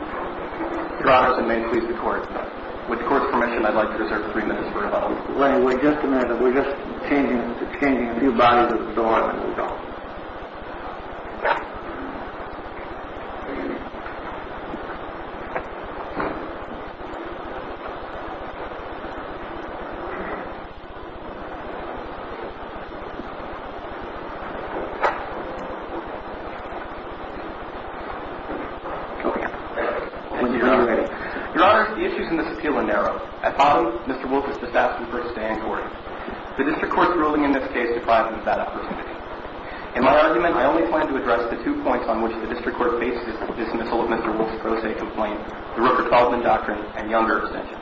Your Honor, I may please the court. With the court's permission, I'd like to reserve three minutes for rebuttal. Wait, wait, just a minute. We're just changing a few bodies at the door. Your Honor, the issues in this appeal are narrow. At bottom, Mr. Wolfe is best asked to first stay in court. The district court's ruling in this case deprives him of that opportunity. In my argument, I only plan to address the two points on which the district court faces the dismissal of Mr. Wolfe's pro se complaint, the Rupert Baldwin Doctrine and Younger Extension.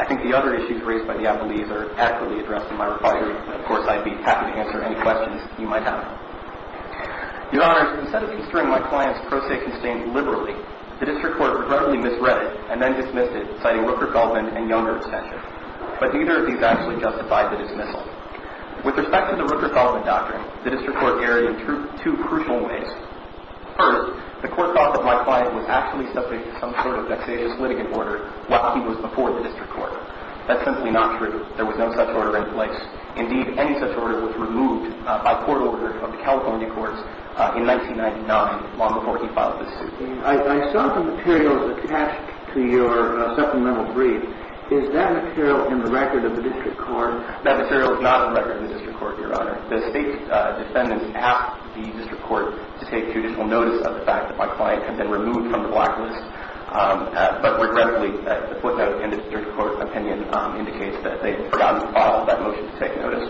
I think the other issues raised by the appellees are accurately addressed in my rebuttal. Of course, I'd be happy to answer any questions you might have. Your Honor, instead of administering my client's pro se constaint liberally, the district court regrettably misread it and then dismissed it, citing Rupert Baldwin and Younger Extension. But neither of these actually justified the dismissal. With respect to the Rupert Baldwin Doctrine, the district court erred in two crucial ways. First, the court thought that my client was actually subject to some sort of vexatious litigant order while he was before the district court. That's simply not true. There was no such order in place. Indeed, any such order was removed by court order of the California courts in 1999, long before he filed the suit. I saw the materials attached to your supplemental brief. Is that material in the record of the district court? That material is not in the record of the district court, Your Honor. The State's defendants asked the district court to take judicial notice of the fact that my client had been removed from the blacklist. But regrettably, the court note and the district court opinion indicates that they forgot to follow that motion to take notice.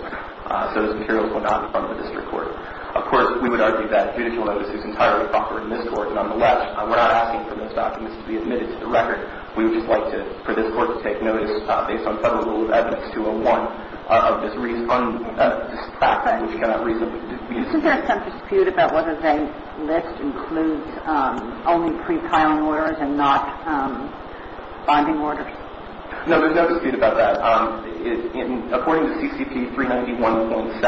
So those materials were not in front of the district court. Of course, we would argue that judicial notice is entirely proper in this court. Nonetheless, we're not asking for those documents to be admitted to the record. We would just like for this court to take notice based on federal rule of evidence 201 of this fact which cannot reasonably be disputed. Isn't there some dispute about whether the list includes only pre-filing orders and not bonding orders? No, there's no dispute about that. According to CCP 391.7,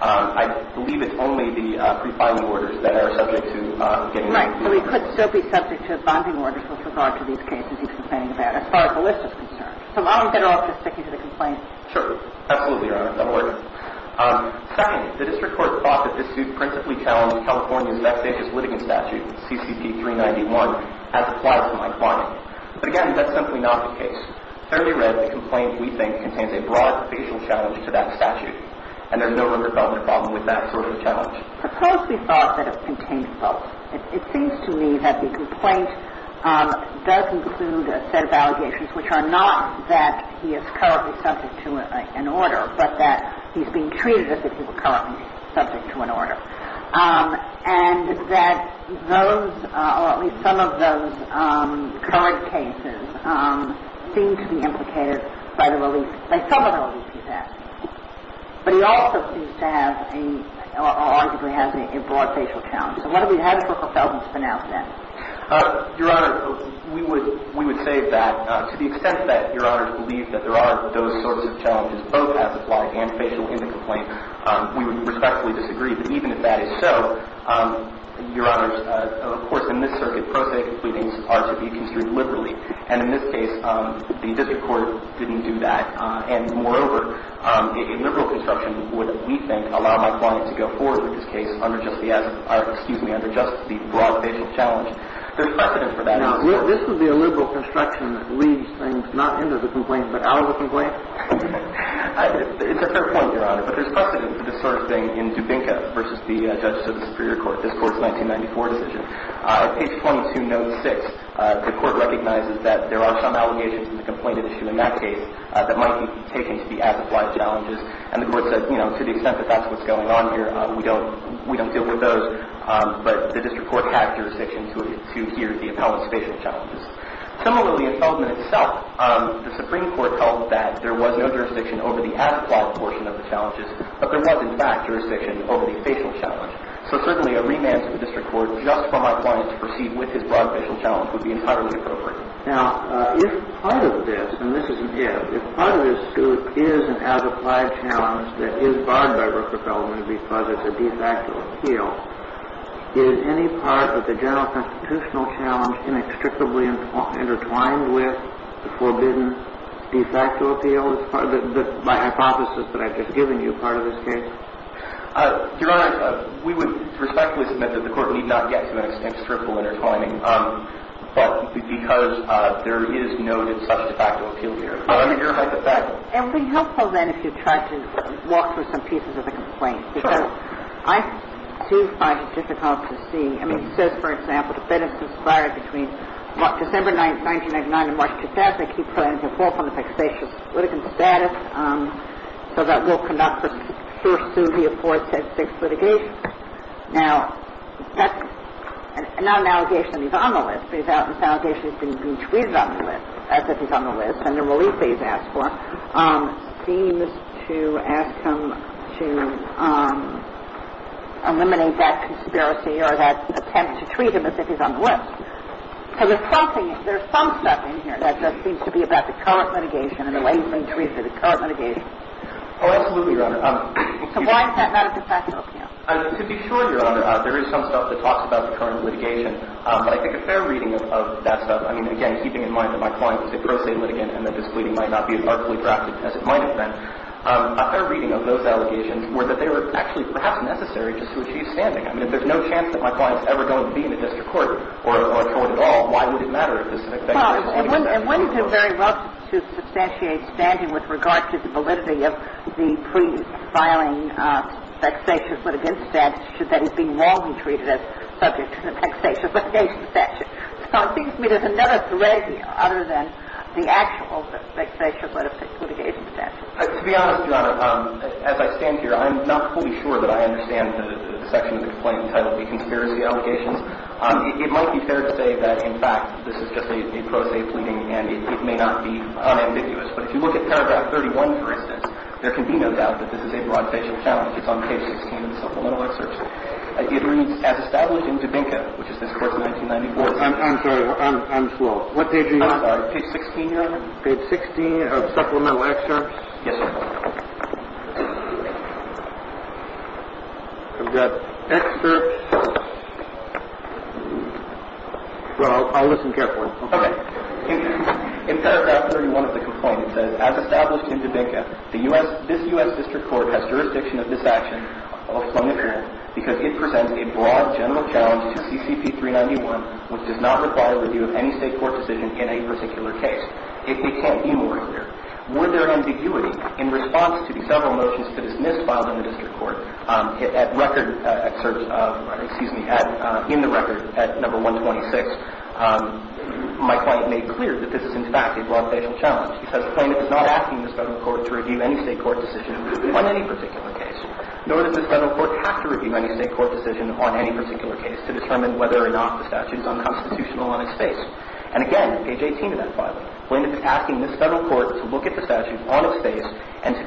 I believe it's only the pre-filing orders that are subject to getting removed. Right. So we could still be subject to bonding orders with regard to these cases you're complaining about as far as the list is concerned. So I'm going to have to stick you to the complaint. Sure. Absolutely, Your Honor. That'll work. Second, the district court thought that this suit principally challenged California's next-ages litigant statute, CCP 391, as applied to my client. But again, that's simply not the case. Fairly read, the complaint, we think, contains a broad facial challenge to that statute. And there's no real development problem with that sort of challenge. Suppose we thought that it contained both. It seems to me that the complaint does include a set of allegations which are not that he is currently subject to an order but that he's being treated as if he were currently subject to an order. And that those, or at least some of those current cases, seem to be implicated by the relief, by some of the relief he's had. But he also seems to have a, or arguably has a broad facial challenge. So what do we have for fulfillment for now, then? Your Honor, we would say that to the extent that Your Honor believes that there are those sorts of challenges, both as applied and facial in the complaint, we would respectfully disagree. But even if that is so, Your Honor, of course, in this circuit, prosaic pleadings are to be construed liberally. And in this case, the district court didn't do that. And moreover, a liberal construction would, we think, allow my client to go forward with this case under just the, excuse me, under just the broad facial challenge. There's precedent for that. This would be a liberal construction that leads things not into the complaint but out of the complaint? It's a fair point, Your Honor. But there's precedent for this sort of thing in Dubinco v. The Judges of the Superior Court, this Court's 1994 decision. At page 22, note 6, the Court recognizes that there are some allegations in the complainant issue in that case that might be taken to be as applied challenges. And the Court says, you know, to the extent that that's what's going on here, we don't deal with those. But the district court has jurisdiction to hear the appellant's facial challenges. Similarly, in Feldman itself, the Supreme Court held that there was no jurisdiction over the as-applied portion of the challenges, but there was, in fact, jurisdiction over the facial challenge. So, certainly, a remand to the district court just for my client to proceed with his broad facial challenge would be entirely appropriate. Now, if part of this, and this is again, if part of this suit is an as-applied challenge that is barred by Rooker-Feldman because it's a de facto appeal, is any part of the general constitutional challenge inextricably intertwined with the forbidden de facto appeal? Is that my hypothesis that I've just given you part of this case? Your Honor, we would respectfully submit that the Court need not get to an inextricable intertwining. But because there is no such de facto appeal here. Your Honor. It would be helpful, then, if you tried to walk through some pieces of the complaint. Sure. Because I, too, find it difficult to see. I mean, it says, for example, the benefit is acquired between December 9th, 1999, and March 2000. It keeps the plaintiff off on the fixation of the litigant's status. So that will conduct the first suit of the aforesaid six litigations. Now, that's not an allegation that he's on the list. It's an allegation that he's being treated on the list as if he's on the list. And the relief that he's asked for seems to ask him to eliminate that conspiracy or that attempt to treat him as if he's on the list. So there's something, there's some stuff in here that just seems to be about the current litigation and the way he's being treated for the current litigation. Oh, absolutely, Your Honor. So why is that not a de facto appeal? To be sure, Your Honor, there is some stuff that talks about the current litigation. But I think a fair reading of that stuff, I mean, again, keeping in mind that my client is a pro se litigant and that this pleading might not be as artfully drafted as it might have been, a fair reading of those allegations were that they were actually perhaps necessary just to achieve standing. I mean, if there's no chance that my client's ever going to be in the district court or a court at all, why would it matter if this is a de facto appeal? Well, and one could very well substantiate standing with regard to the validity of the pre-filing vexatious litigation statute that he's being morally treated as subject to the vexatious litigation statute. So it seems to me there's another thread here other than the actual vexatious litigation statute. To be honest, Your Honor, as I stand here, I'm not fully sure that I understand the section of the complaint entitled the conspiracy allegations. It might be fair to say that, in fact, this is just a pro se pleading and it may not be unambiguous. But if you look at paragraph 31, for instance, there can be no doubt that this is a broad vexatious challenge. It's on page 16 of the supplemental excerpts. It reads, as established in Dubinco, which is this course of 1994. I'm sorry. I'm swole. What page are you on? Page 16, Your Honor. Page 16 of supplemental excerpts? Yes, sir. I've got excerpts. Well, I'll listen carefully. Okay. In paragraph 31 of the complaint, it says, as established in Dubinco, this U.S. district court has jurisdiction of this action, because it presents a broad general challenge to CCP 391, which does not require review of any state court decision in a particular case. If they can't be more clear, were there ambiguity in response to the several motions to dismiss filed in the district court in the record at number 126? My client made clear that this is, in fact, a broad general challenge. He says the plaintiff is not asking the federal court to review any state court decision on any particular case, nor does the federal court have to review any state court decision on any particular case to determine whether or not the statute is unconstitutional on its face. And, again, page 18 of that filing, the plaintiff is asking this federal court to look at the statute on its face and to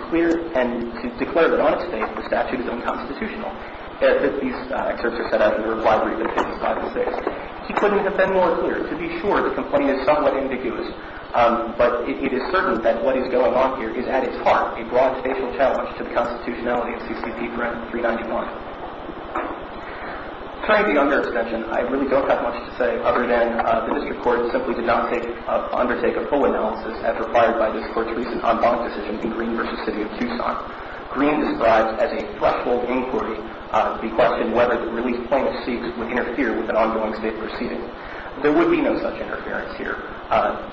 declare that on its face the statute is unconstitutional. These excerpts are set out in the reply brief of pages 5 to 6. He couldn't have been more clear. To be sure, the complaint is somewhat ambiguous. But it is certain that what is going on here is, at its heart, a broad facial challenge to the constitutionality of CCP 391. Trying to be under extension, I really don't have much to say other than the district court simply did not undertake a full analysis as required by district court's recent en banc decision in Green v. City of Tucson. Green describes as a threshold inquiry the question whether the released plaintiff's state proceeding. There would be no such interference here.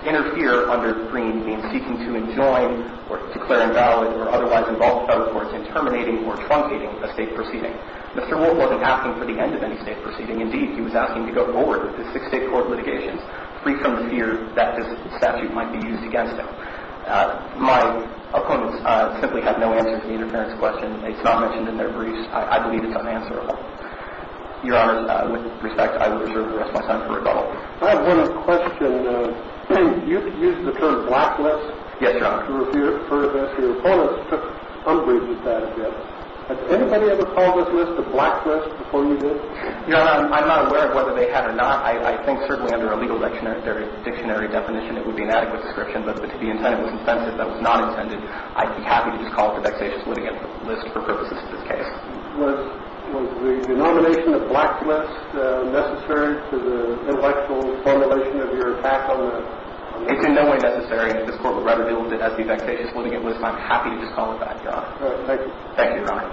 Interfere under Green means seeking to enjoin or declare invalid or otherwise involve federal courts in terminating or truncating a state proceeding. Mr. Wolf wasn't asking for the end of any state proceeding. Indeed, he was asking to go forward with the six state court litigations free from the fear that this statute might be used against him. My opponents simply have no answer to the interference question. It's not mentioned in their briefs. I believe it's unanswerable. Your Honor, with respect, I will reserve the rest of my time for rebuttal. I have one question. You used the term blacklist. Yes, Your Honor. To refer to this. Your opponents took unbridled advantage of it. Has anybody ever called this list a blacklist before you did? Your Honor, I'm not aware of whether they have or not. I think certainly under a legal dictionary definition, it would be an adequate description. But if the intent was incentive, that was not intended, I'd be happy to just call it a vexatious litigant list for purposes of this case. Was the denomination of blacklist necessary to the intellectual formulation of your attack on him? It's in no way necessary. This Court would rather deal with it as the vexatious litigant list, and I'm happy to just call it that, Your Honor. All right. Thank you. Thank you, Your Honor.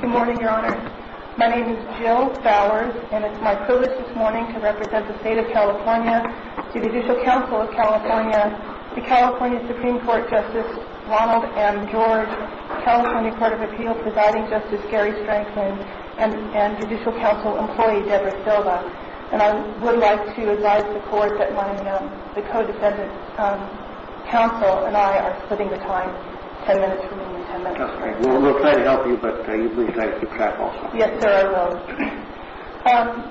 Good morning, Your Honor. My name is Jill Bowers, and it's my privilege this morning to represent the State of California, the California Supreme Court Justice Ronald M. George, California Court of Appeals Presiding Justice Gary Stranklin, and Judicial Council employee Deborah Silva. And I would like to advise the Court that when the co-defendant's counsel and I are splitting the time, 10 minutes from me and 10 minutes from you. Just a minute. We'll try to help you, but you'd be nice to chat also. Yes, sir, I will.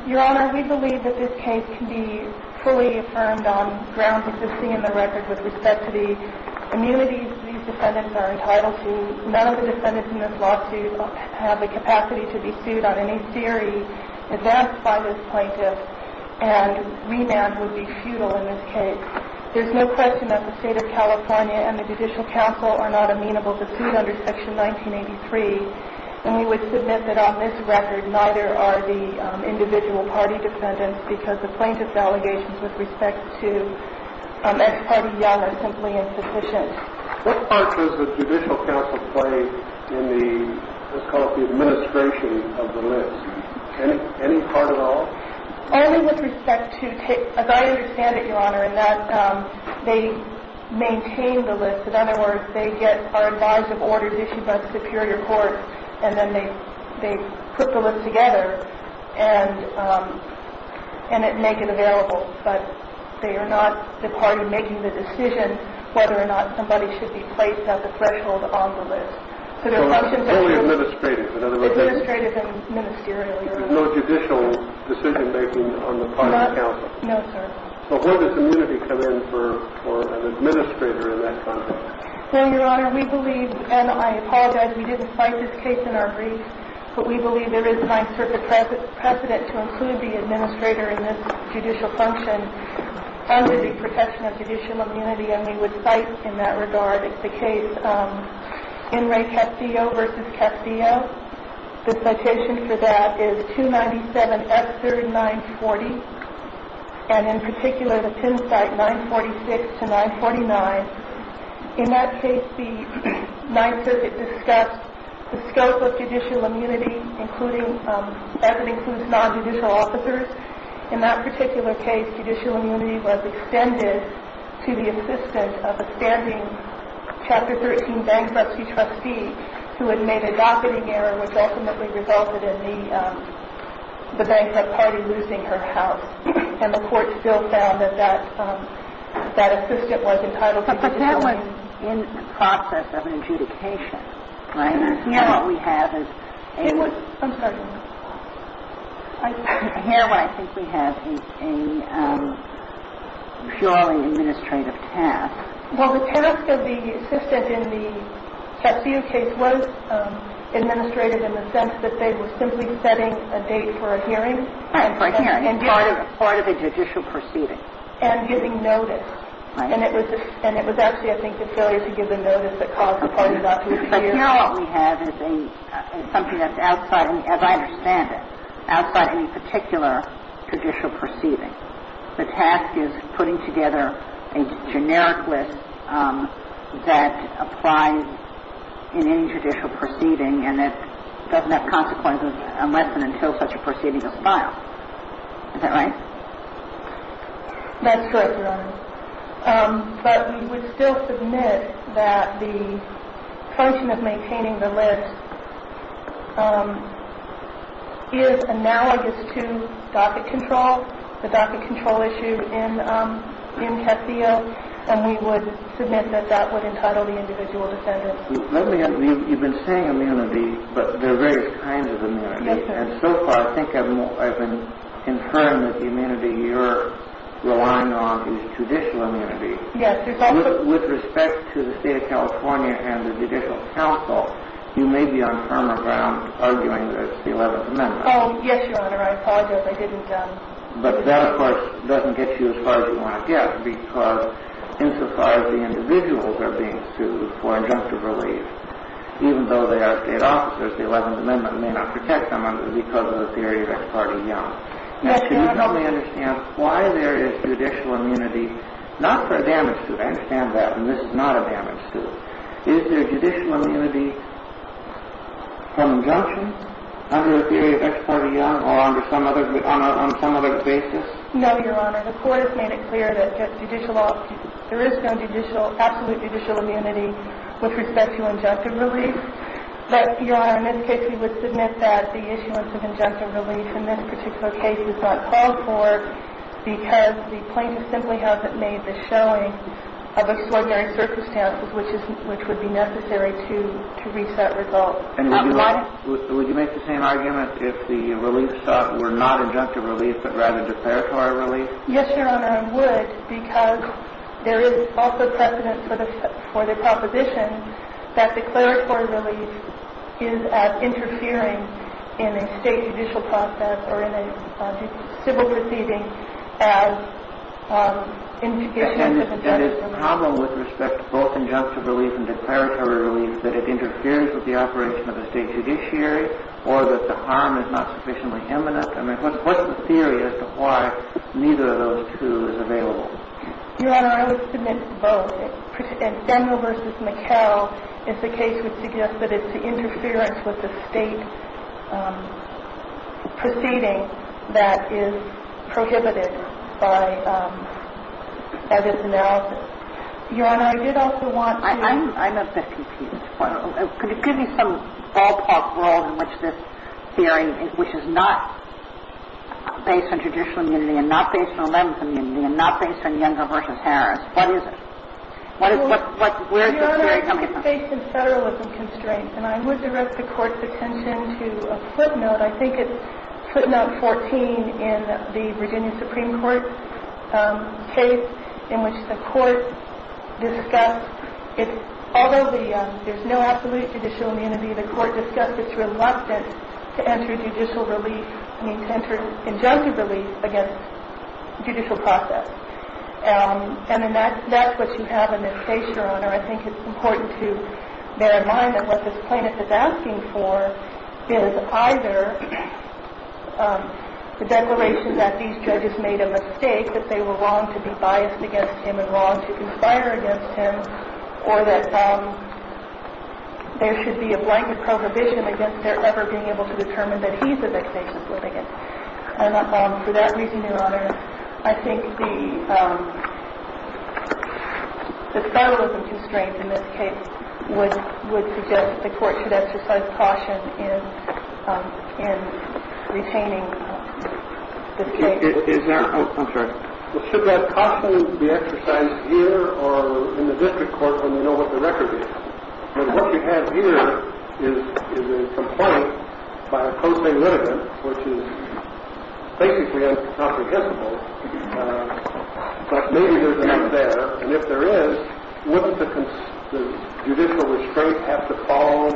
Your Honor, we believe that this case can be fully affirmed on grounds existing in the record with respect to the immunities these defendants are entitled to. None of the defendants in this lawsuit have the capacity to be sued on any theory advanced by this plaintiff, and remand would be futile in this case. There's no question that the State of California and the Judicial Council are not amenable to suit under Section 1983, and we would submit that on this record, neither are the individual party defendants because the plaintiff's allegations with respect to ex-party young are simply insufficient. What part does the Judicial Council play in the, let's call it the administration of the list? Any part at all? Only with respect to, as I understand it, Your Honor, in that they maintain the list. In other words, they get, are advised of orders issued by the Superior Court, and then they put the list together and make it available, but they are not the part in making the decision whether or not somebody should be placed at the threshold on the list. So their function is only administrative. Administrative and ministerial. There's no judicial decision-making on the part of the council. No, sir. So where does immunity come in for an administrator in that context? Well, Your Honor, we believe, and I apologize, we didn't cite this case in our brief, but we believe there is time for the precedent to include the administrator in this judicial function under the protection of judicial immunity, and we would cite in that regard the case N. Ray Castillo v. Castillo. The citation for that is 297 F. 3rd 940, and in particular, the Penn site 946 to 949. In that case, the Ninth Circuit discussed the scope of judicial immunity, including, as it includes non-judicial officers. In that particular case, judicial immunity was extended to the assistant of a standing Chapter 13 bankruptcy trustee who had made a docketing error, which ultimately resulted in the bankrupt party losing her house, and the court still found that that assistant was entitled to judicial immunity. But that was in the process of adjudication, right? And here what we have is a... I'm sorry. Here what I think we have is a purely administrative task. Well, the task of the assistant in the Castillo case was administrative in the sense that they were simply setting a date for a hearing. Right, for a hearing. And part of a judicial proceeding. And giving notice. Right. And it was actually, I think, the failure to give the notice that caused part of that to appear. But here what we have is something that's outside, as I understand it, outside any particular judicial proceeding. The task is putting together a generic list that applies in any judicial proceeding and that doesn't have consequences unless and until such a proceeding is filed. Is that right? That's correct, Your Honor. But we would still submit that the function of maintaining the list is analogous to docket control, the docket control issue in Castillo. And we would submit that that would entitle the individual to sentence. You've been saying immunity, but there are various kinds of immunity. And so far, I think I've confirmed that the immunity you're relying on is judicial immunity. Yes. With respect to the state of California and the judicial council, you may be on firmer ground arguing that it's the 11th Amendment. Oh, yes, Your Honor. I apologize. I didn't. But that, of course, doesn't get you as far as you want to get because insofar as the individuals are being sued for injunctive relief, even though they are state officers, the 11th Amendment may not protect them because of the theory of ex parte young. Yes, Your Honor. Now, can you help me understand why there is judicial immunity not for a damaged suit? I understand that. And this is not a damaged suit. Is there judicial immunity from injunction under the theory of ex parte young or on some other basis? No, Your Honor. The court has made it clear that there is no absolute judicial immunity with respect to injunctive relief. But, Your Honor, in this case, we would submit that the issuance of injunctive relief in this particular case is not called for because the plaintiff simply hasn't made the showing of extraordinary circumstances which would be necessary to reach that result. And would you make the same argument if the reliefs were not injunctive relief but rather declaratory relief? Yes, Your Honor, I would because there is also precedent for the proposition that declaratory relief is as interfering in a state judicial process or in a civil proceeding as intubation of injunctive relief. And is the problem with respect to both injunctive relief and declaratory relief that it interferes with the operation of a state judiciary or that the harm is not sufficiently imminent? I mean, what's the theory as to why neither of those two is available? Your Honor, I would submit both. And Fenner v. McHale, as the case would suggest, that it's the interference with the state proceeding that is prohibited by this analysis. Your Honor, I did also want to – I'm not that confused. Could you give me some ballpark role in which this hearing, which is not based on judicial immunity and not based on eleventh immunity and not based on Younger v. Harris, what is it? What is – what – where is this hearing coming from? Your Honor, I think it's based in federalism constraints. And I would direct the Court's attention to a footnote. I think it's footnote 14 in the Virginia Supreme Court case in which the Court discussed it's – although the – there's no absolute judicial immunity, the Court discussed its reluctance to enter judicial relief – I mean, to enter injunctive relief against judicial process. And that's what you have in this case, Your Honor. I think it's important to bear in mind that what this plaintiff is asking for is either the declaration that these judges made a mistake, that they were wrong to be biased against him and wrong to conspire against him, or that there should be a blanket prohibition against their ever being able to determine that he's a vexatious litigant. And for that reason, Your Honor, I think the – the federalism constraint in this case would – would suggest the Court should exercise caution in – in retaining this case. Is there – oh, I'm sorry. Should that caution be exercised here or in the district court when we know what the record is? But what you have here is – is a complaint by a pro se litigant, which is basically incomprehensible. But maybe there's a need there. And if there is, wouldn't the – the judicial restraint have to call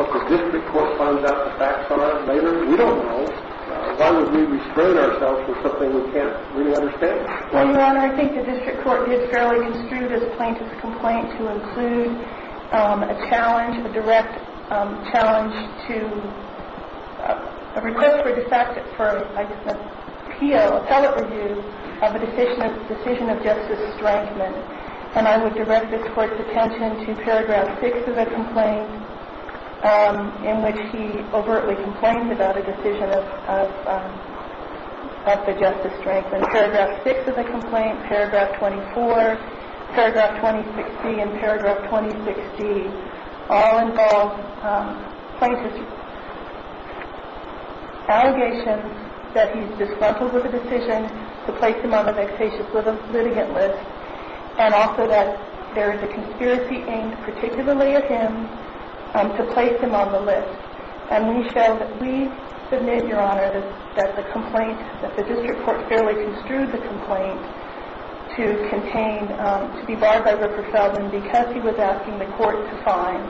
what the district court finds out the facts are later? We don't know. Why would we restrain ourselves for something we can't really understand? Well, Your Honor, I think the district court did fairly construe this plaintiff's complaint to include a challenge, a direct challenge to a request for de facto – for a PO, appellate review of a decision of – decision of justice strikement. And I would direct this Court's attention to paragraph 6 of the complaint, in which he overtly complained about a decision of – of – of the justice strikement. Paragraph 6 of the complaint, paragraph 24, paragraph 2060, and paragraph 2060 all involve plaintiff's allegations that he's disgruntled with a decision to place him on the vexatious litigant list, and also that there is a conspiracy aimed particularly at him to place him on the list. And we show that we submit, Your Honor, that the complaint – that the district court fairly construed the complaint to contain – to be barred by Rupert Feldman because he was asking the Court to find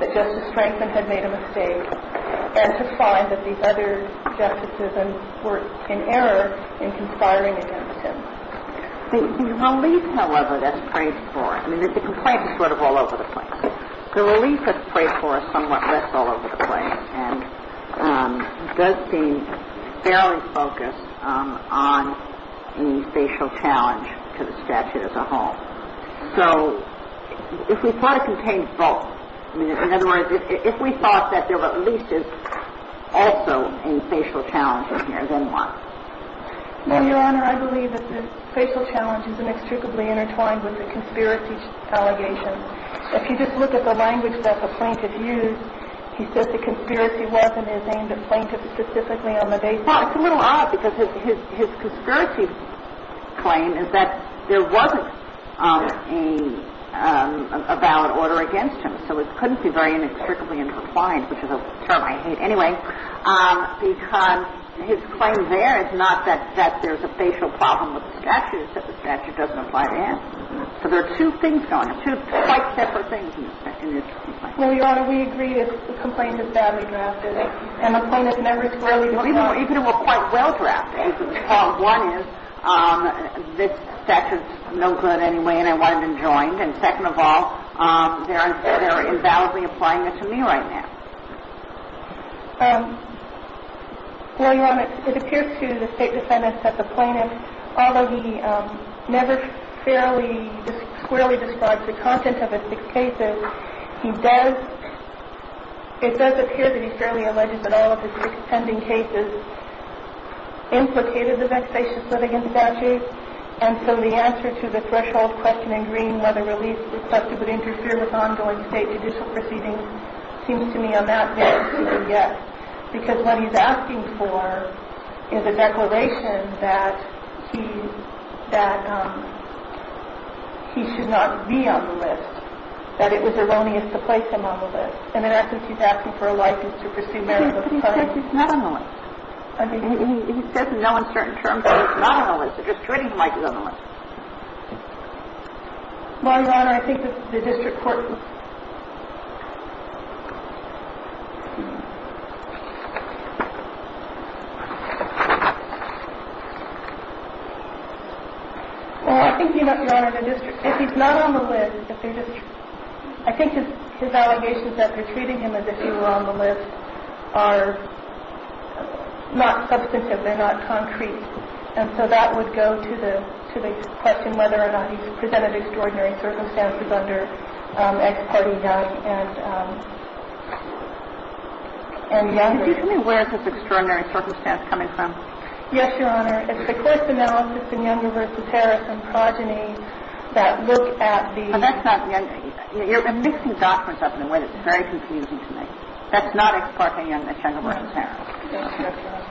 that justice strikement had made a mistake, and to find that these other justices were in error in conspiring against him. The relief, however, that's praised for – I mean, the complaint is sort of all over the place. The relief that's praised for is somewhat less all over the place, and does seem fairly focused on any facial challenge to the statute as a whole. So if we thought it contained both – I mean, in other words, if we thought that there were at least as also any facial challenges here, then why? No, Your Honor, I believe that the facial challenge is inextricably intertwined with the conspiracy allegations. If you just look at the language that the plaintiff used, he says the conspiracy wasn't his aim to plaintiff specifically on the basis of – Well, it's a little odd because his conspiracy claim is that there wasn't a valid order against him. So it couldn't be very inextricably intertwined, which is a term I hate anyway, because his claim there is not that there's a facial problem with the statute. It's that the statute doesn't apply to him. So there are two things going on, two quite separate things in this complaint. Well, Your Honor, we agree that the complaint is badly drafted, and the plaintiff never thoroughly looked at it. Well, even if it were quite well drafted, part one is this statute is no good anyway and I wanted him joined, and second of all, they're invalidly applying it to me right now. Well, Your Honor, it appears to the State Defendant that the plaintiff, although he never fairly – squarely describes the content of his six cases, he does – it does appear that he fairly alleges that all of his six pending cases implicated the vexatious litigation statute, and so the answer to the threshold question in green, whether release requested would interfere with ongoing State judicial proceedings, seems to me to be a bit of a question. I don't think he's making a claim that he's not on that list yet, because what he's asking for is a declaration that he's – that he should not be on the list, that it was erroneous to place him on the list, and in essence he's asking for a license to pursue marriage with a client. But he's not on the list. I mean, he says in no uncertain terms that he's not on the list. They're just treating him like he's on the list. Well, Your Honor, I think the district court – Well, I think, Your Honor, the district – if he's not on the list, if they're just – I think his allegations that they're treating him as if he were on the list are not substantive. They're not concrete. And so that would go to the – to the question whether or not he's presented extraordinary circumstances under ex parte young and – and younger. Could you tell me where is this extraordinary circumstance coming from? Yes, Your Honor. It's the court's analysis in Younger v. Harris and progeny that look at the – So that's not – you're mixing documents up in a way that's very confusing to me. That's not ex parte young at Younger v. Harris. Right.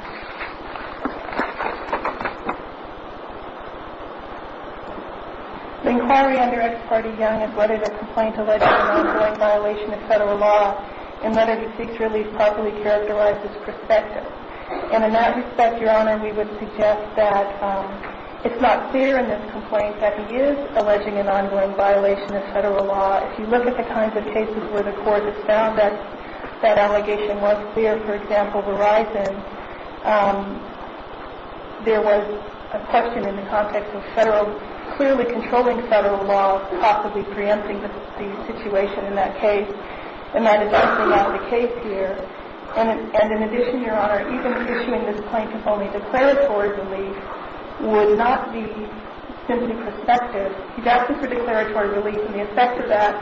The inquiry under ex parte young is whether the complaint alleges an ongoing violation of Federal law and whether the seeks release properly characterizes perspective. And in that respect, Your Honor, we would suggest that it's not clear in this complaint that he is alleging an ongoing violation of Federal law. If you look at the kinds of cases where the court has found that that allegation was clear, for example, Verizon, there was a question in the context of Federal – clearly controlling Federal law possibly preempting the situation in that case. And that is not the case here. And in addition, Your Honor, even issuing this complaint as only declaratory release would not be simply perspective. He's asking for declaratory release, and the effect of that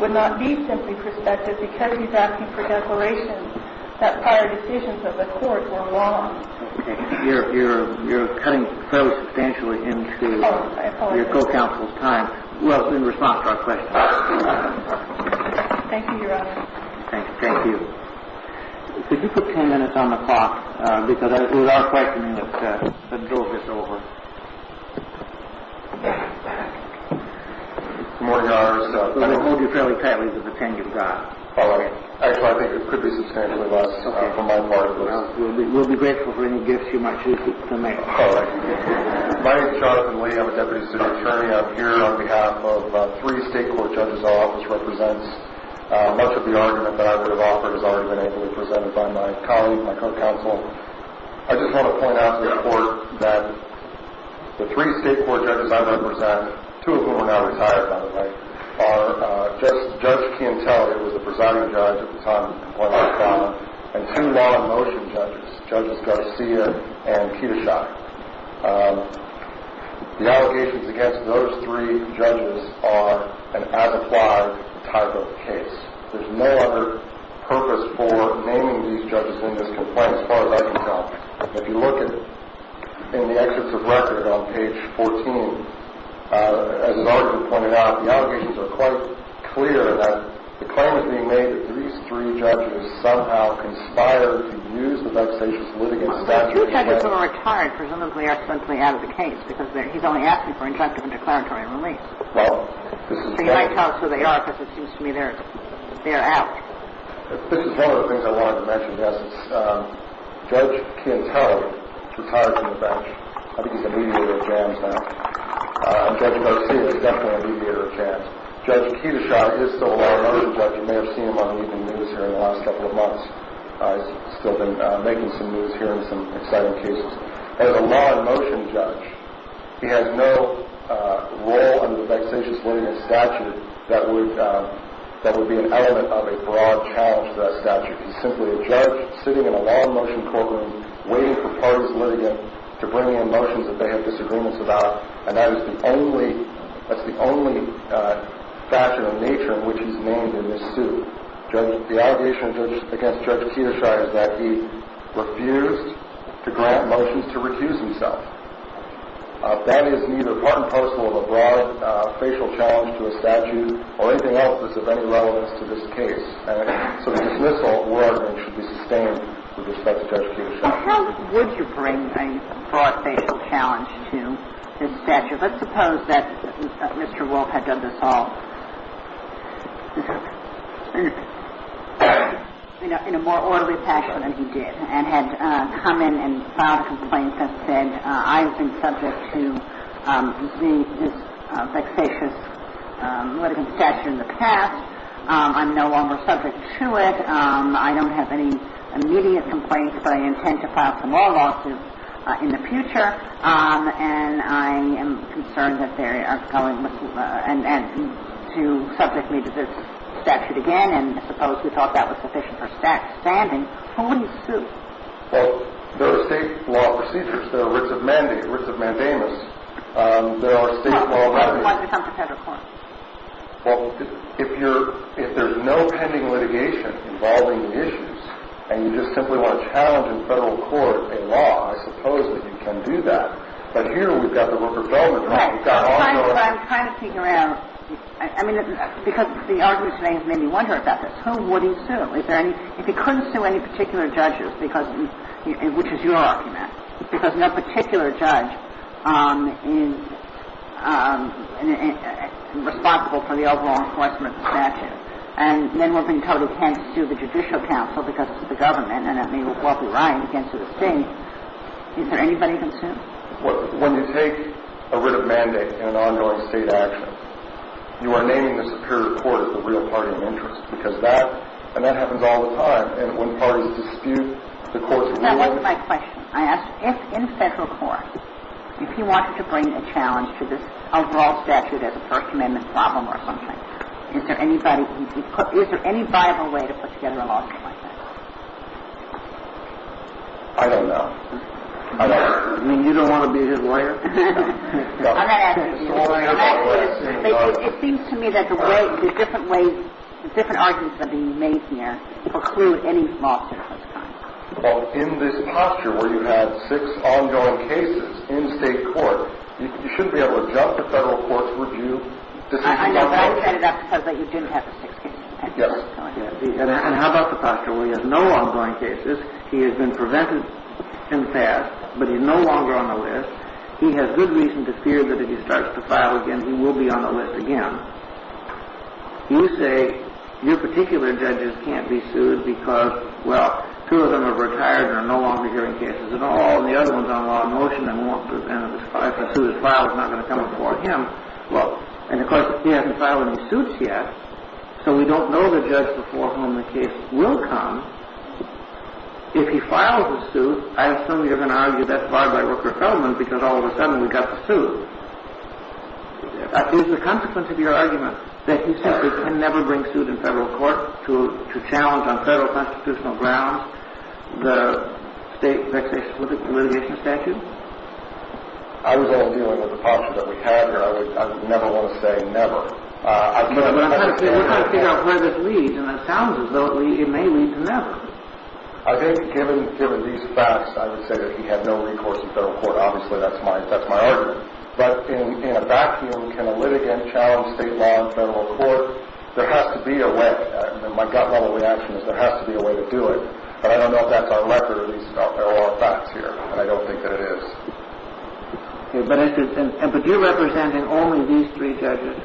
would not be simply perspective because he's asking for declarations that prior decisions of the court were wrong. Okay. You're cutting fairly substantially into your co-counsel's time. I apologize. Well, in response to our question. Thank you, Your Honor. Thank you. Could you put 10 minutes on the clock? Because it was our question that drove this over. Good morning, Your Honor. I'm going to hold you fairly tightly to the 10 you've got. All right. Actually, I think it could be substantially less for my part. We'll be grateful for any gifts you might choose to make. All right. My name is Jonathan Lee. I'm a deputy attorney up here on behalf of three state court judges. Much of the argument that I would have offered has already been able to be presented by my colleague, my co-counsel. I just want to point out to the court that the three state court judges I represent, two of whom are now retired, by the way, are Judge Quintel, who was the presiding judge at the time of the complaint, and two law in motion judges, Judges Garcia and Ketusha. The allegations against those three judges are an as-applied type of case. There's no other purpose for naming these judges in this complaint as far as I can tell. If you look in the exits of record on page 14, as has already been pointed out, the allegations are quite clear that the claim is being made that these three judges somehow conspired to use the vexatious litigant statute. Two judges who are retired presumably are simply out of the case because he's only asking for injunctive and declaratory release. So you might tell us who they are because it seems to me they're out. This is one of the things I wanted to mention, Justice. Judge Quintel retired from the bench. I think he's a mediator of jams now. Judge Garcia is definitely a mediator of jams. Judge Ketusha is still a law in motion judge. You may have seen him on the evening news here in the last couple of months. He's still been making some news here in some exciting cases. He's a law in motion judge. He has no role in the vexatious litigant statute that would be an element of a broad challenge to that statute. He's simply a judge sitting in a law in motion courtroom waiting for parties litigant to bring in motions that they have disagreements about, and that is the only factor of nature in which he's named in this suit. The allegation against Judge Ketusha is that he refused to grant motions to recuse himself. That is neither part and parcel of a broad facial challenge to a statute or anything else that's of any relevance to this case. So the dismissal should be sustained with respect to Judge Ketusha. Well, how would you bring a broad facial challenge to this statute? Let's suppose that Mr. Wolf had done this all in a more orderly fashion than he did and had come in and filed a complaint that said, I've been subject to this vexatious litigant statute in the past. I'm no longer subject to it. I don't have any immediate complaints, but I intend to file some more lawsuits in the future, and I am concerned that they are going to subject me to this statute again, and suppose we thought that was sufficient for standing. Who would he sue? Well, there are state law procedures. There are writs of mandamus. There are state law regulations. Why did he come to federal court? Well, if there's no pending litigation involving the issues and you just simply want to challenge in federal court a law, I suppose that you can do that. But here we've got the work of government. I'm trying to figure out, I mean, because the argument today has made me wonder about this. Who would he sue? If he couldn't sue any particular judges, which is your argument, because no particular judge is responsible for the overall enforcement of the statute, and then we'll be told he can't sue the Judicial Council because it's the government and then we'll be riled against the state. Is there anybody he can sue? When you take a writ of mandate in an ongoing state action, you are naming the superior court as the real party of interest because that, and that happens all the time, and when parties dispute the court's ruling. Now, here's my question. I ask, if in federal court, if he wanted to bring a challenge to this overall statute as a First Amendment problem or something, is there any viable way to put together a lawsuit like that? I don't know. I mean, you don't want to be his lawyer? I'm not asking you. It seems to me that the way, the different ways, that are being made here preclude any lawsuit of this kind. Well, in this posture where you had six ongoing cases in state court, you shouldn't be able to jump to federal court's review decision on the issue. I know that. That's because you didn't have the six cases. Yes. And how about the posture where he has no ongoing cases, he has been prevented in the past, but he's no longer on the list, he has good reason to fear that if he starts to file again, he will be on the list again. You say your particular judges can't be sued because, well, two of them are retired and are no longer hearing cases at all, and the other one's on law and motion and if a suit is filed, it's not going to come before him. Well, and of course, he hasn't filed any suits yet, so we don't know the judge before whom the case will come. If he files a suit, I assume you're going to argue that's barred by worker settlement because all of a sudden we've got the suit. Is the consequence of your argument that he simply can never bring suit in federal court to challenge on federal constitutional grounds the state vexation litigation statute? I was only dealing with the posture that we have here. I would never want to say never. We're trying to figure out where this leads, and it sounds as though it may lead to never. I think given these facts, I would say that he had no recourse in federal court. Obviously, that's my argument. But in a vacuum, can a litigant challenge state law in federal court? There has to be a way. My gut-level reaction is there has to be a way to do it, but I don't know if that's our record or these are all facts here, and I don't think that it is. But you're representing only these three judges?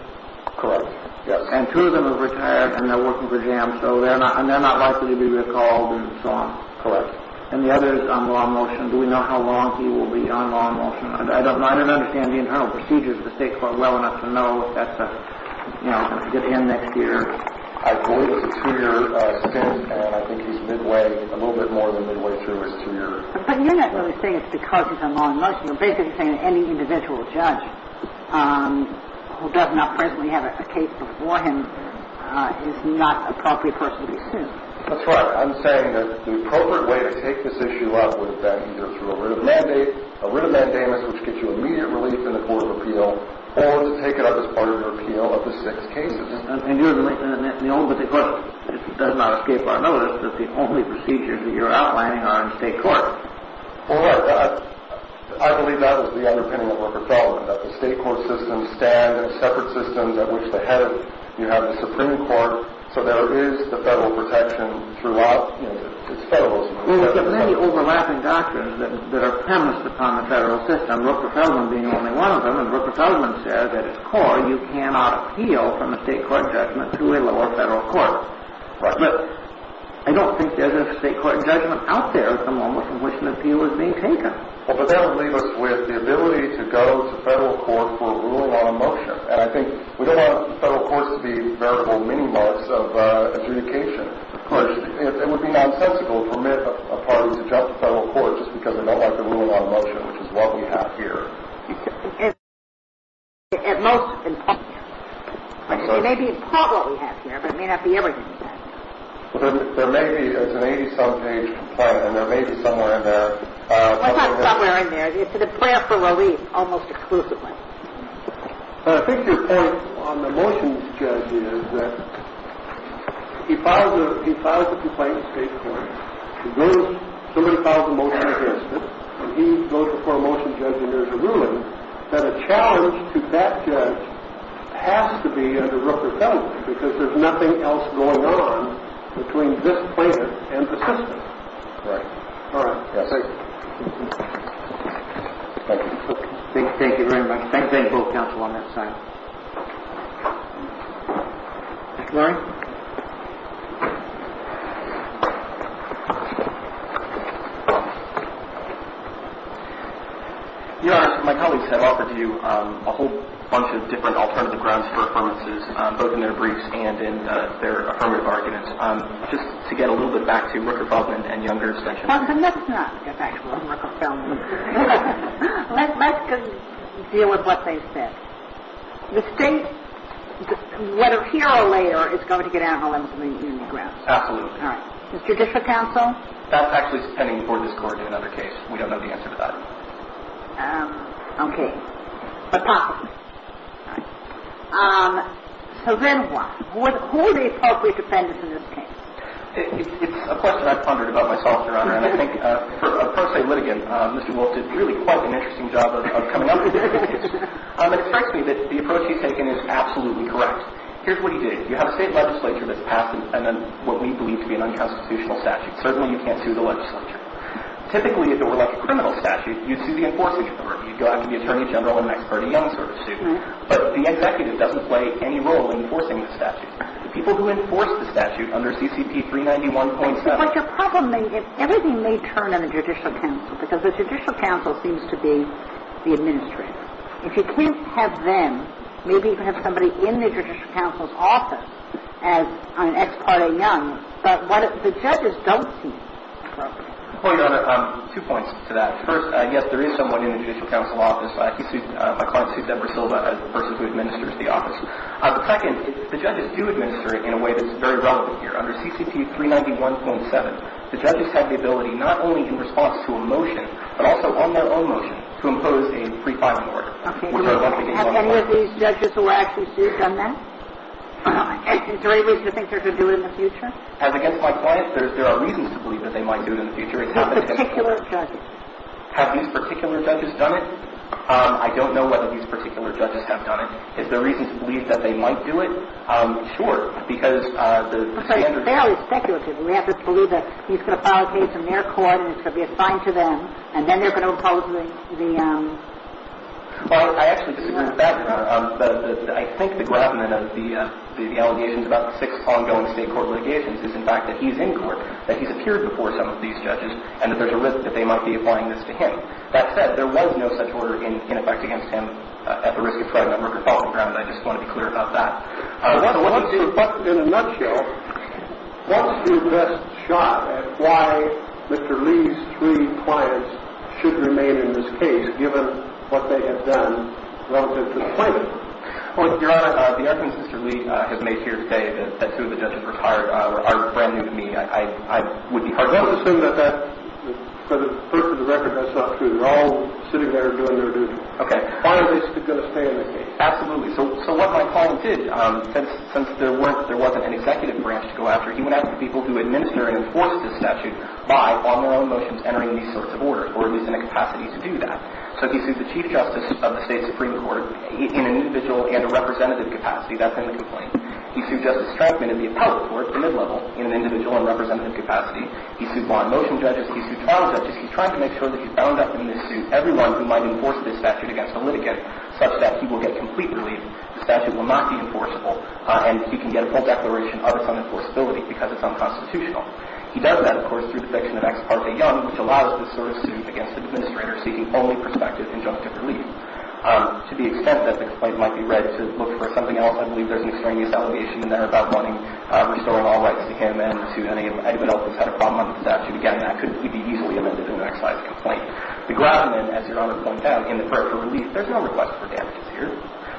Correct, yes. And two of them are retired and they're working for him, so they're not likely to be recalled and so on? Correct. And the other is on law in motion. Do we know how long he will be on law in motion? I don't understand the internal procedures of the state court well enough to know if that's going to end next year. I believe it's a two-year stint, and I think he's midway, a little bit more than midway through his two years. But you're not really saying it's because he's on law in motion. You're basically saying that any individual judge who does not presently have a case before him is not an appropriate person to be sued. That's right. I'm saying that the appropriate way to take this issue up would have been either through a writ of mandate, a writ of mandamus, which gets you immediate relief in the Court of Appeal, or to take it up as part of your appeal of the six cases. And the only particular thing, if it does not escape our notice, is that the only procedures that you're outlining are in state court. Correct. I believe that was the underpinning of Rockefeller, that the state court systems stand as separate systems at which the head of the Supreme Court, so there is the federal protection throughout. It's federalism. Well, there's many overlapping doctrines that are premised upon the federal system, Rockefeller being only one of them. And Rockefeller says at its core you cannot appeal from a state court judgment to a lower federal court. Correct. I don't think there's a state court judgment out there at the moment from which an appeal is being taken. Well, but that would leave us with the ability to go to federal court for a rule of law in motion. And I think we don't want federal courts to be variable minimums of adjudication. Of course, it would be nonsensical to permit a party to jump to federal court just because they don't like the rule of law in motion, which is what we have here. At most. It may be in part what we have here, but it may not be everything we have here. There may be, it's an 80-some page complaint, and there may be somewhere in there. Well, it's not somewhere in there. It's in the plan for release almost exclusively. I think your point on the motions, Judge, is that he files the complaint in state court. Somebody files a motion against it, and he goes before a motion judge and there's a ruling that a challenge to that judge has to be under Rockefeller because there's nothing else going on between this plaintiff and the system. Right. All right. Thank you. Thank you very much. Thank you both, counsel, on that side. Larry? Your Honor, my colleagues have offered you a whole bunch of different alternative grounds for affirmances, both in their briefs and in their affirmative arguments. Just to get a little bit back to Rooker-Bosman and Younger extensions. Well, let's not get back to Rooker-Bosman. Let's deal with what they said. The state, whether here or later, is going to get out of a limit on the union grounds. Absolutely. All right. Judicial counsel? That's actually pending before this Court in another case. We don't know the answer to that. Okay. But possibly. All right. So then what? Who are the appropriate defendants in this case? It's a question I've pondered about myself, Your Honor. And I think, for a per se litigant, Mr. Wolf did really quite an interesting job of coming up with these. It strikes me that the approach he's taken is absolutely correct. Here's what he did. You have a state legislature that's passed what we believe to be an unconstitutional statute. Certainly, you can't sue the legislature. Typically, if it were like a criminal statute, you'd sue the enforcing authority. You'd go out to the Attorney General and the next party youngster to sue. But the executive doesn't play any role in enforcing the statute. The people who enforce the statute under CCP 391.7 But your problem is everything may turn on the judicial counsel, because the judicial counsel seems to be the administrator. If you can't have them, maybe you can have somebody in the judicial counsel's office as an ex parte young. But what the judges don't see. Well, Your Honor, two points to that. First, my client sued Deborah Silva, a person who administers the office. Second, the judges do administer it in a way that's very relevant here. Under CCP 391.7, the judges have the ability, not only in response to a motion, but also on their own motion, to impose a pre-filing order. Have any of these judges who actually sued done that? Is there any reason to think they're going to do it in the future? As against my client, there are reasons to believe that they might do it in the future. Have these particular judges done it? I don't know whether these particular judges have done it. Is there a reason to believe that they might do it? Sure. Because the standard... Fairly speculative. We have the clue that he's going to file a case in their court and it's going to be assigned to them, and then they're going to impose the... Well, I actually disagree with that, Your Honor. I think the gravamen of the allegations about the six ongoing state court litigations is, in fact, that he's in court, that he's appeared before some of these judges, and that there's a risk that they might be applying this to him. That said, there was no such order in effect against him at the risk of trial, and I just want to be clear about that. But in a nutshell, what's your best shot at why Mr. Lee's three clients should remain in this case, given what they have done relative to the claimant? Well, Your Honor, the argument that Mr. Lee has made here today, that two of the judges retired, are brand new to me. I would be hard- Well, let's assume that that, for the record, that's not true. They're all sitting there doing their duty. Okay. Why are they still going to stay in the case? Absolutely. So what my client did, since there wasn't an executive branch to go after, he went after people who administer and enforce this statute by, on their own motions, entering these sorts of orders, or at least in a capacity to do that. So he sued the Chief Justice of the State Supreme Court in an individual and a representative capacity. That's in the complaint. He sued Justice Strachman in the Appellate Court, the mid-level, in an individual and representative capacity. He sued law in motion judges. He sued trial judges. He's trying to make sure that he's bound up in this suit everyone who might enforce this statute against a litigant, such that he will get complete relief. The statute will not be enforceable, and he can get a full declaration of its unenforceability because it's unconstitutional. He does that, of course, through the conviction of X. Parte Young, which allows this sort of suit against an administrator seeking only prospective injunctive relief. To the extent that the complaint might be read to look for something else, I believe there's an extraneous allegation in there about wanting restoring all rights to him and to anyone else who's had a problem with the statute. Again, that could be easily amended in the next slide's complaint. The groundsman, as Your Honor points out, in the court for relief, there's no request for damages here.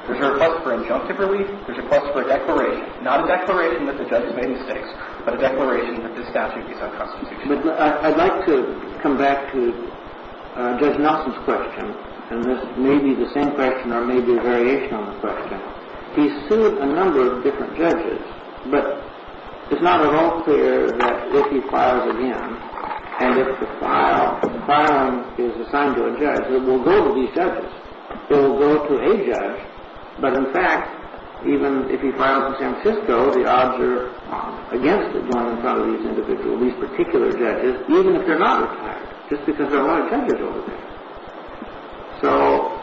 There's a request for injunctive relief. There's a request for a declaration, not a declaration that the judge has made mistakes, but a declaration that this statute is unconstitutional. But I'd like to come back to Judge Nelson's question, and this may be the same question or may be a variation on the question. He sued a number of different judges, but it's not at all clear that if he files again and if the file is assigned to a judge, it will go to these judges. It will go to a judge, but in fact, even if he files in San Francisco, the odds are against it going in front of these individuals, these particular judges, even if they're not retired, just because there are a lot of judges over there. So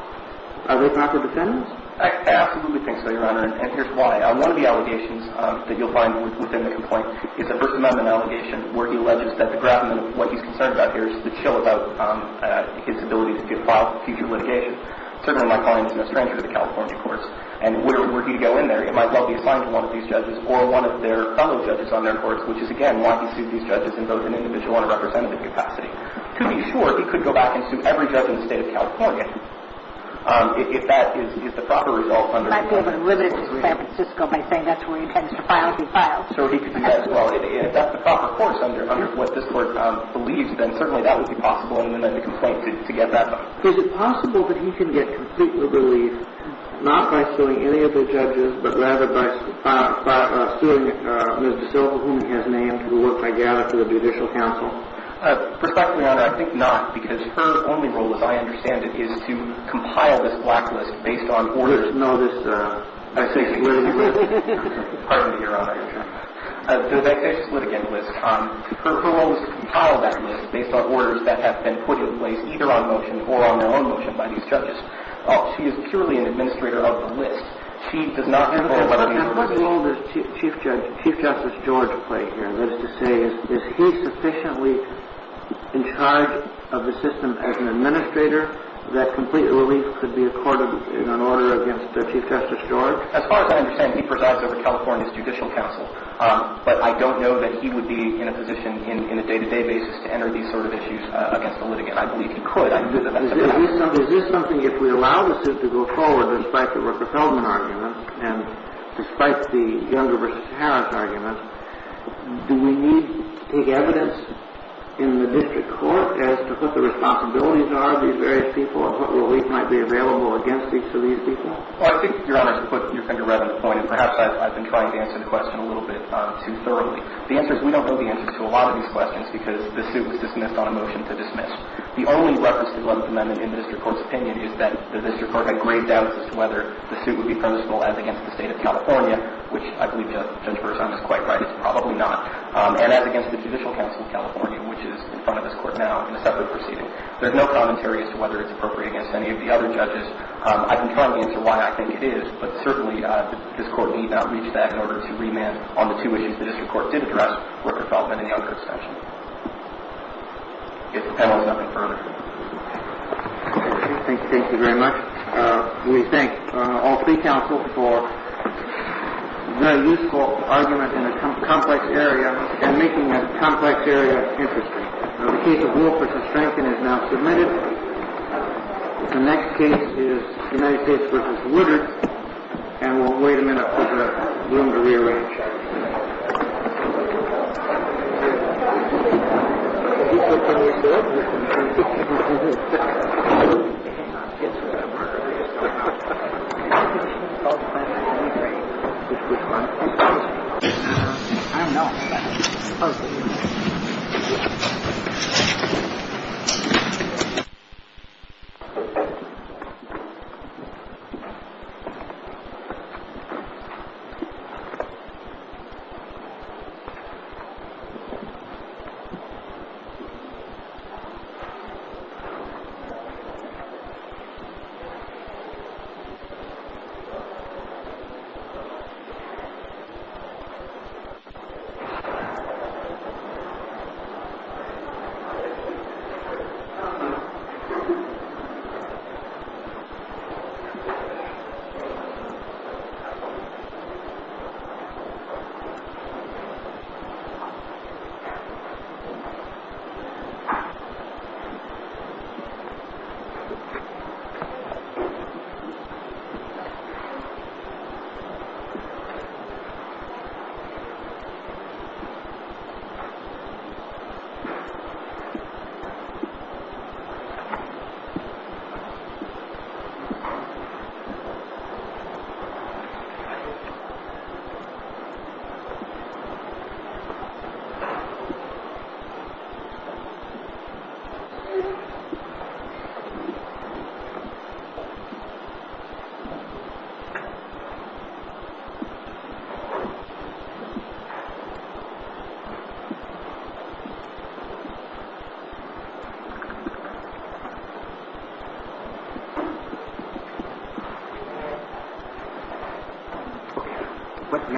are they proper defendants? I absolutely think so, Your Honor, and here's why. One of the allegations that you'll find within the complaint is a First Amendment allegation where he alleges that the groundsman, what he's concerned about here, is the chill about his ability to file future litigation. Certainly my client isn't a stranger to the California courts, and were he to go in there, it might well be assigned to one of these judges or one of their fellow judges on their courts, which is, again, why he sued these judges in both an individual and a representative capacity. To be sure, he could go back and sue every judge in the state of California. If that is the proper result under the complaint. He might be able to limit it to San Francisco by saying that's where he intends to file his files. So he could do that as well. If that's the proper course under what this Court believes, then certainly that would be possible in the complaint to get that done. Is it possible that he can get completely relieved, not by suing any of the judges, but rather by suing Ms. DeSilva, whom he has named, who worked together for the Judicial Council? Perspectively on it, I think not. Because her only role, as I understand it, is to compile this blacklist based on orders. There's no such thing as a blacklist. Pardon me, Your Honor. There's a facetious litigant list. Her role is to compile that list based on orders that have been put in place either on motion or on their own motion by these judges. She is purely an administrator of the list. She does not control what the order is. What role does Chief Justice George play here? That is to say, is he sufficiently in charge of the system as an administrator that complete relief could be accorded in an order against Chief Justice George? As far as I understand, he presides over California's Judicial Council. But I don't know that he would be in a position in a day-to-day basis to enter these sort of issues against the litigant. I believe he could. I believe that that's a fact. Is this something, if we allow the suit to go forward, despite the Rooker-Feldman argument and despite the Younger v. Harris argument, do we need to take evidence in the district court as to what the responsibilities are of these various people and what relief might be available against each of these people? Well, I think, Your Honor, to put your finger right on the point, and perhaps I've been trying to answer the question a little bit too thoroughly, the answer is we don't know the answer to a lot of these questions because the suit was dismissed on a motion to dismiss. The only reference to the 11th Amendment in the district court's opinion is that the district court had grave doubts as to whether the suit would be presentable as against the State of California, which I believe Judge Burson is quite right, it's probably not, and as against the Judicial Council of California, which is in front of this Court now in a separate proceeding. There's no commentary as to whether it's appropriate against any of the other judges. I've been trying to answer why I think it is, but certainly this Court need not reach that in order to remand on the two issues the district court did address, Rooker-Feldman and the Younger extension. If the panel has nothing further. Thank you. Thank you very much. We thank all three counsels for a very useful argument in a complex area and making a complex area interesting. The case of Wolf v. Franklin is now submitted. The next case is United States v. Woodard, and we'll wait a minute for the room to rearrange. Thank you very much. Thank you. Thank you. Thank you.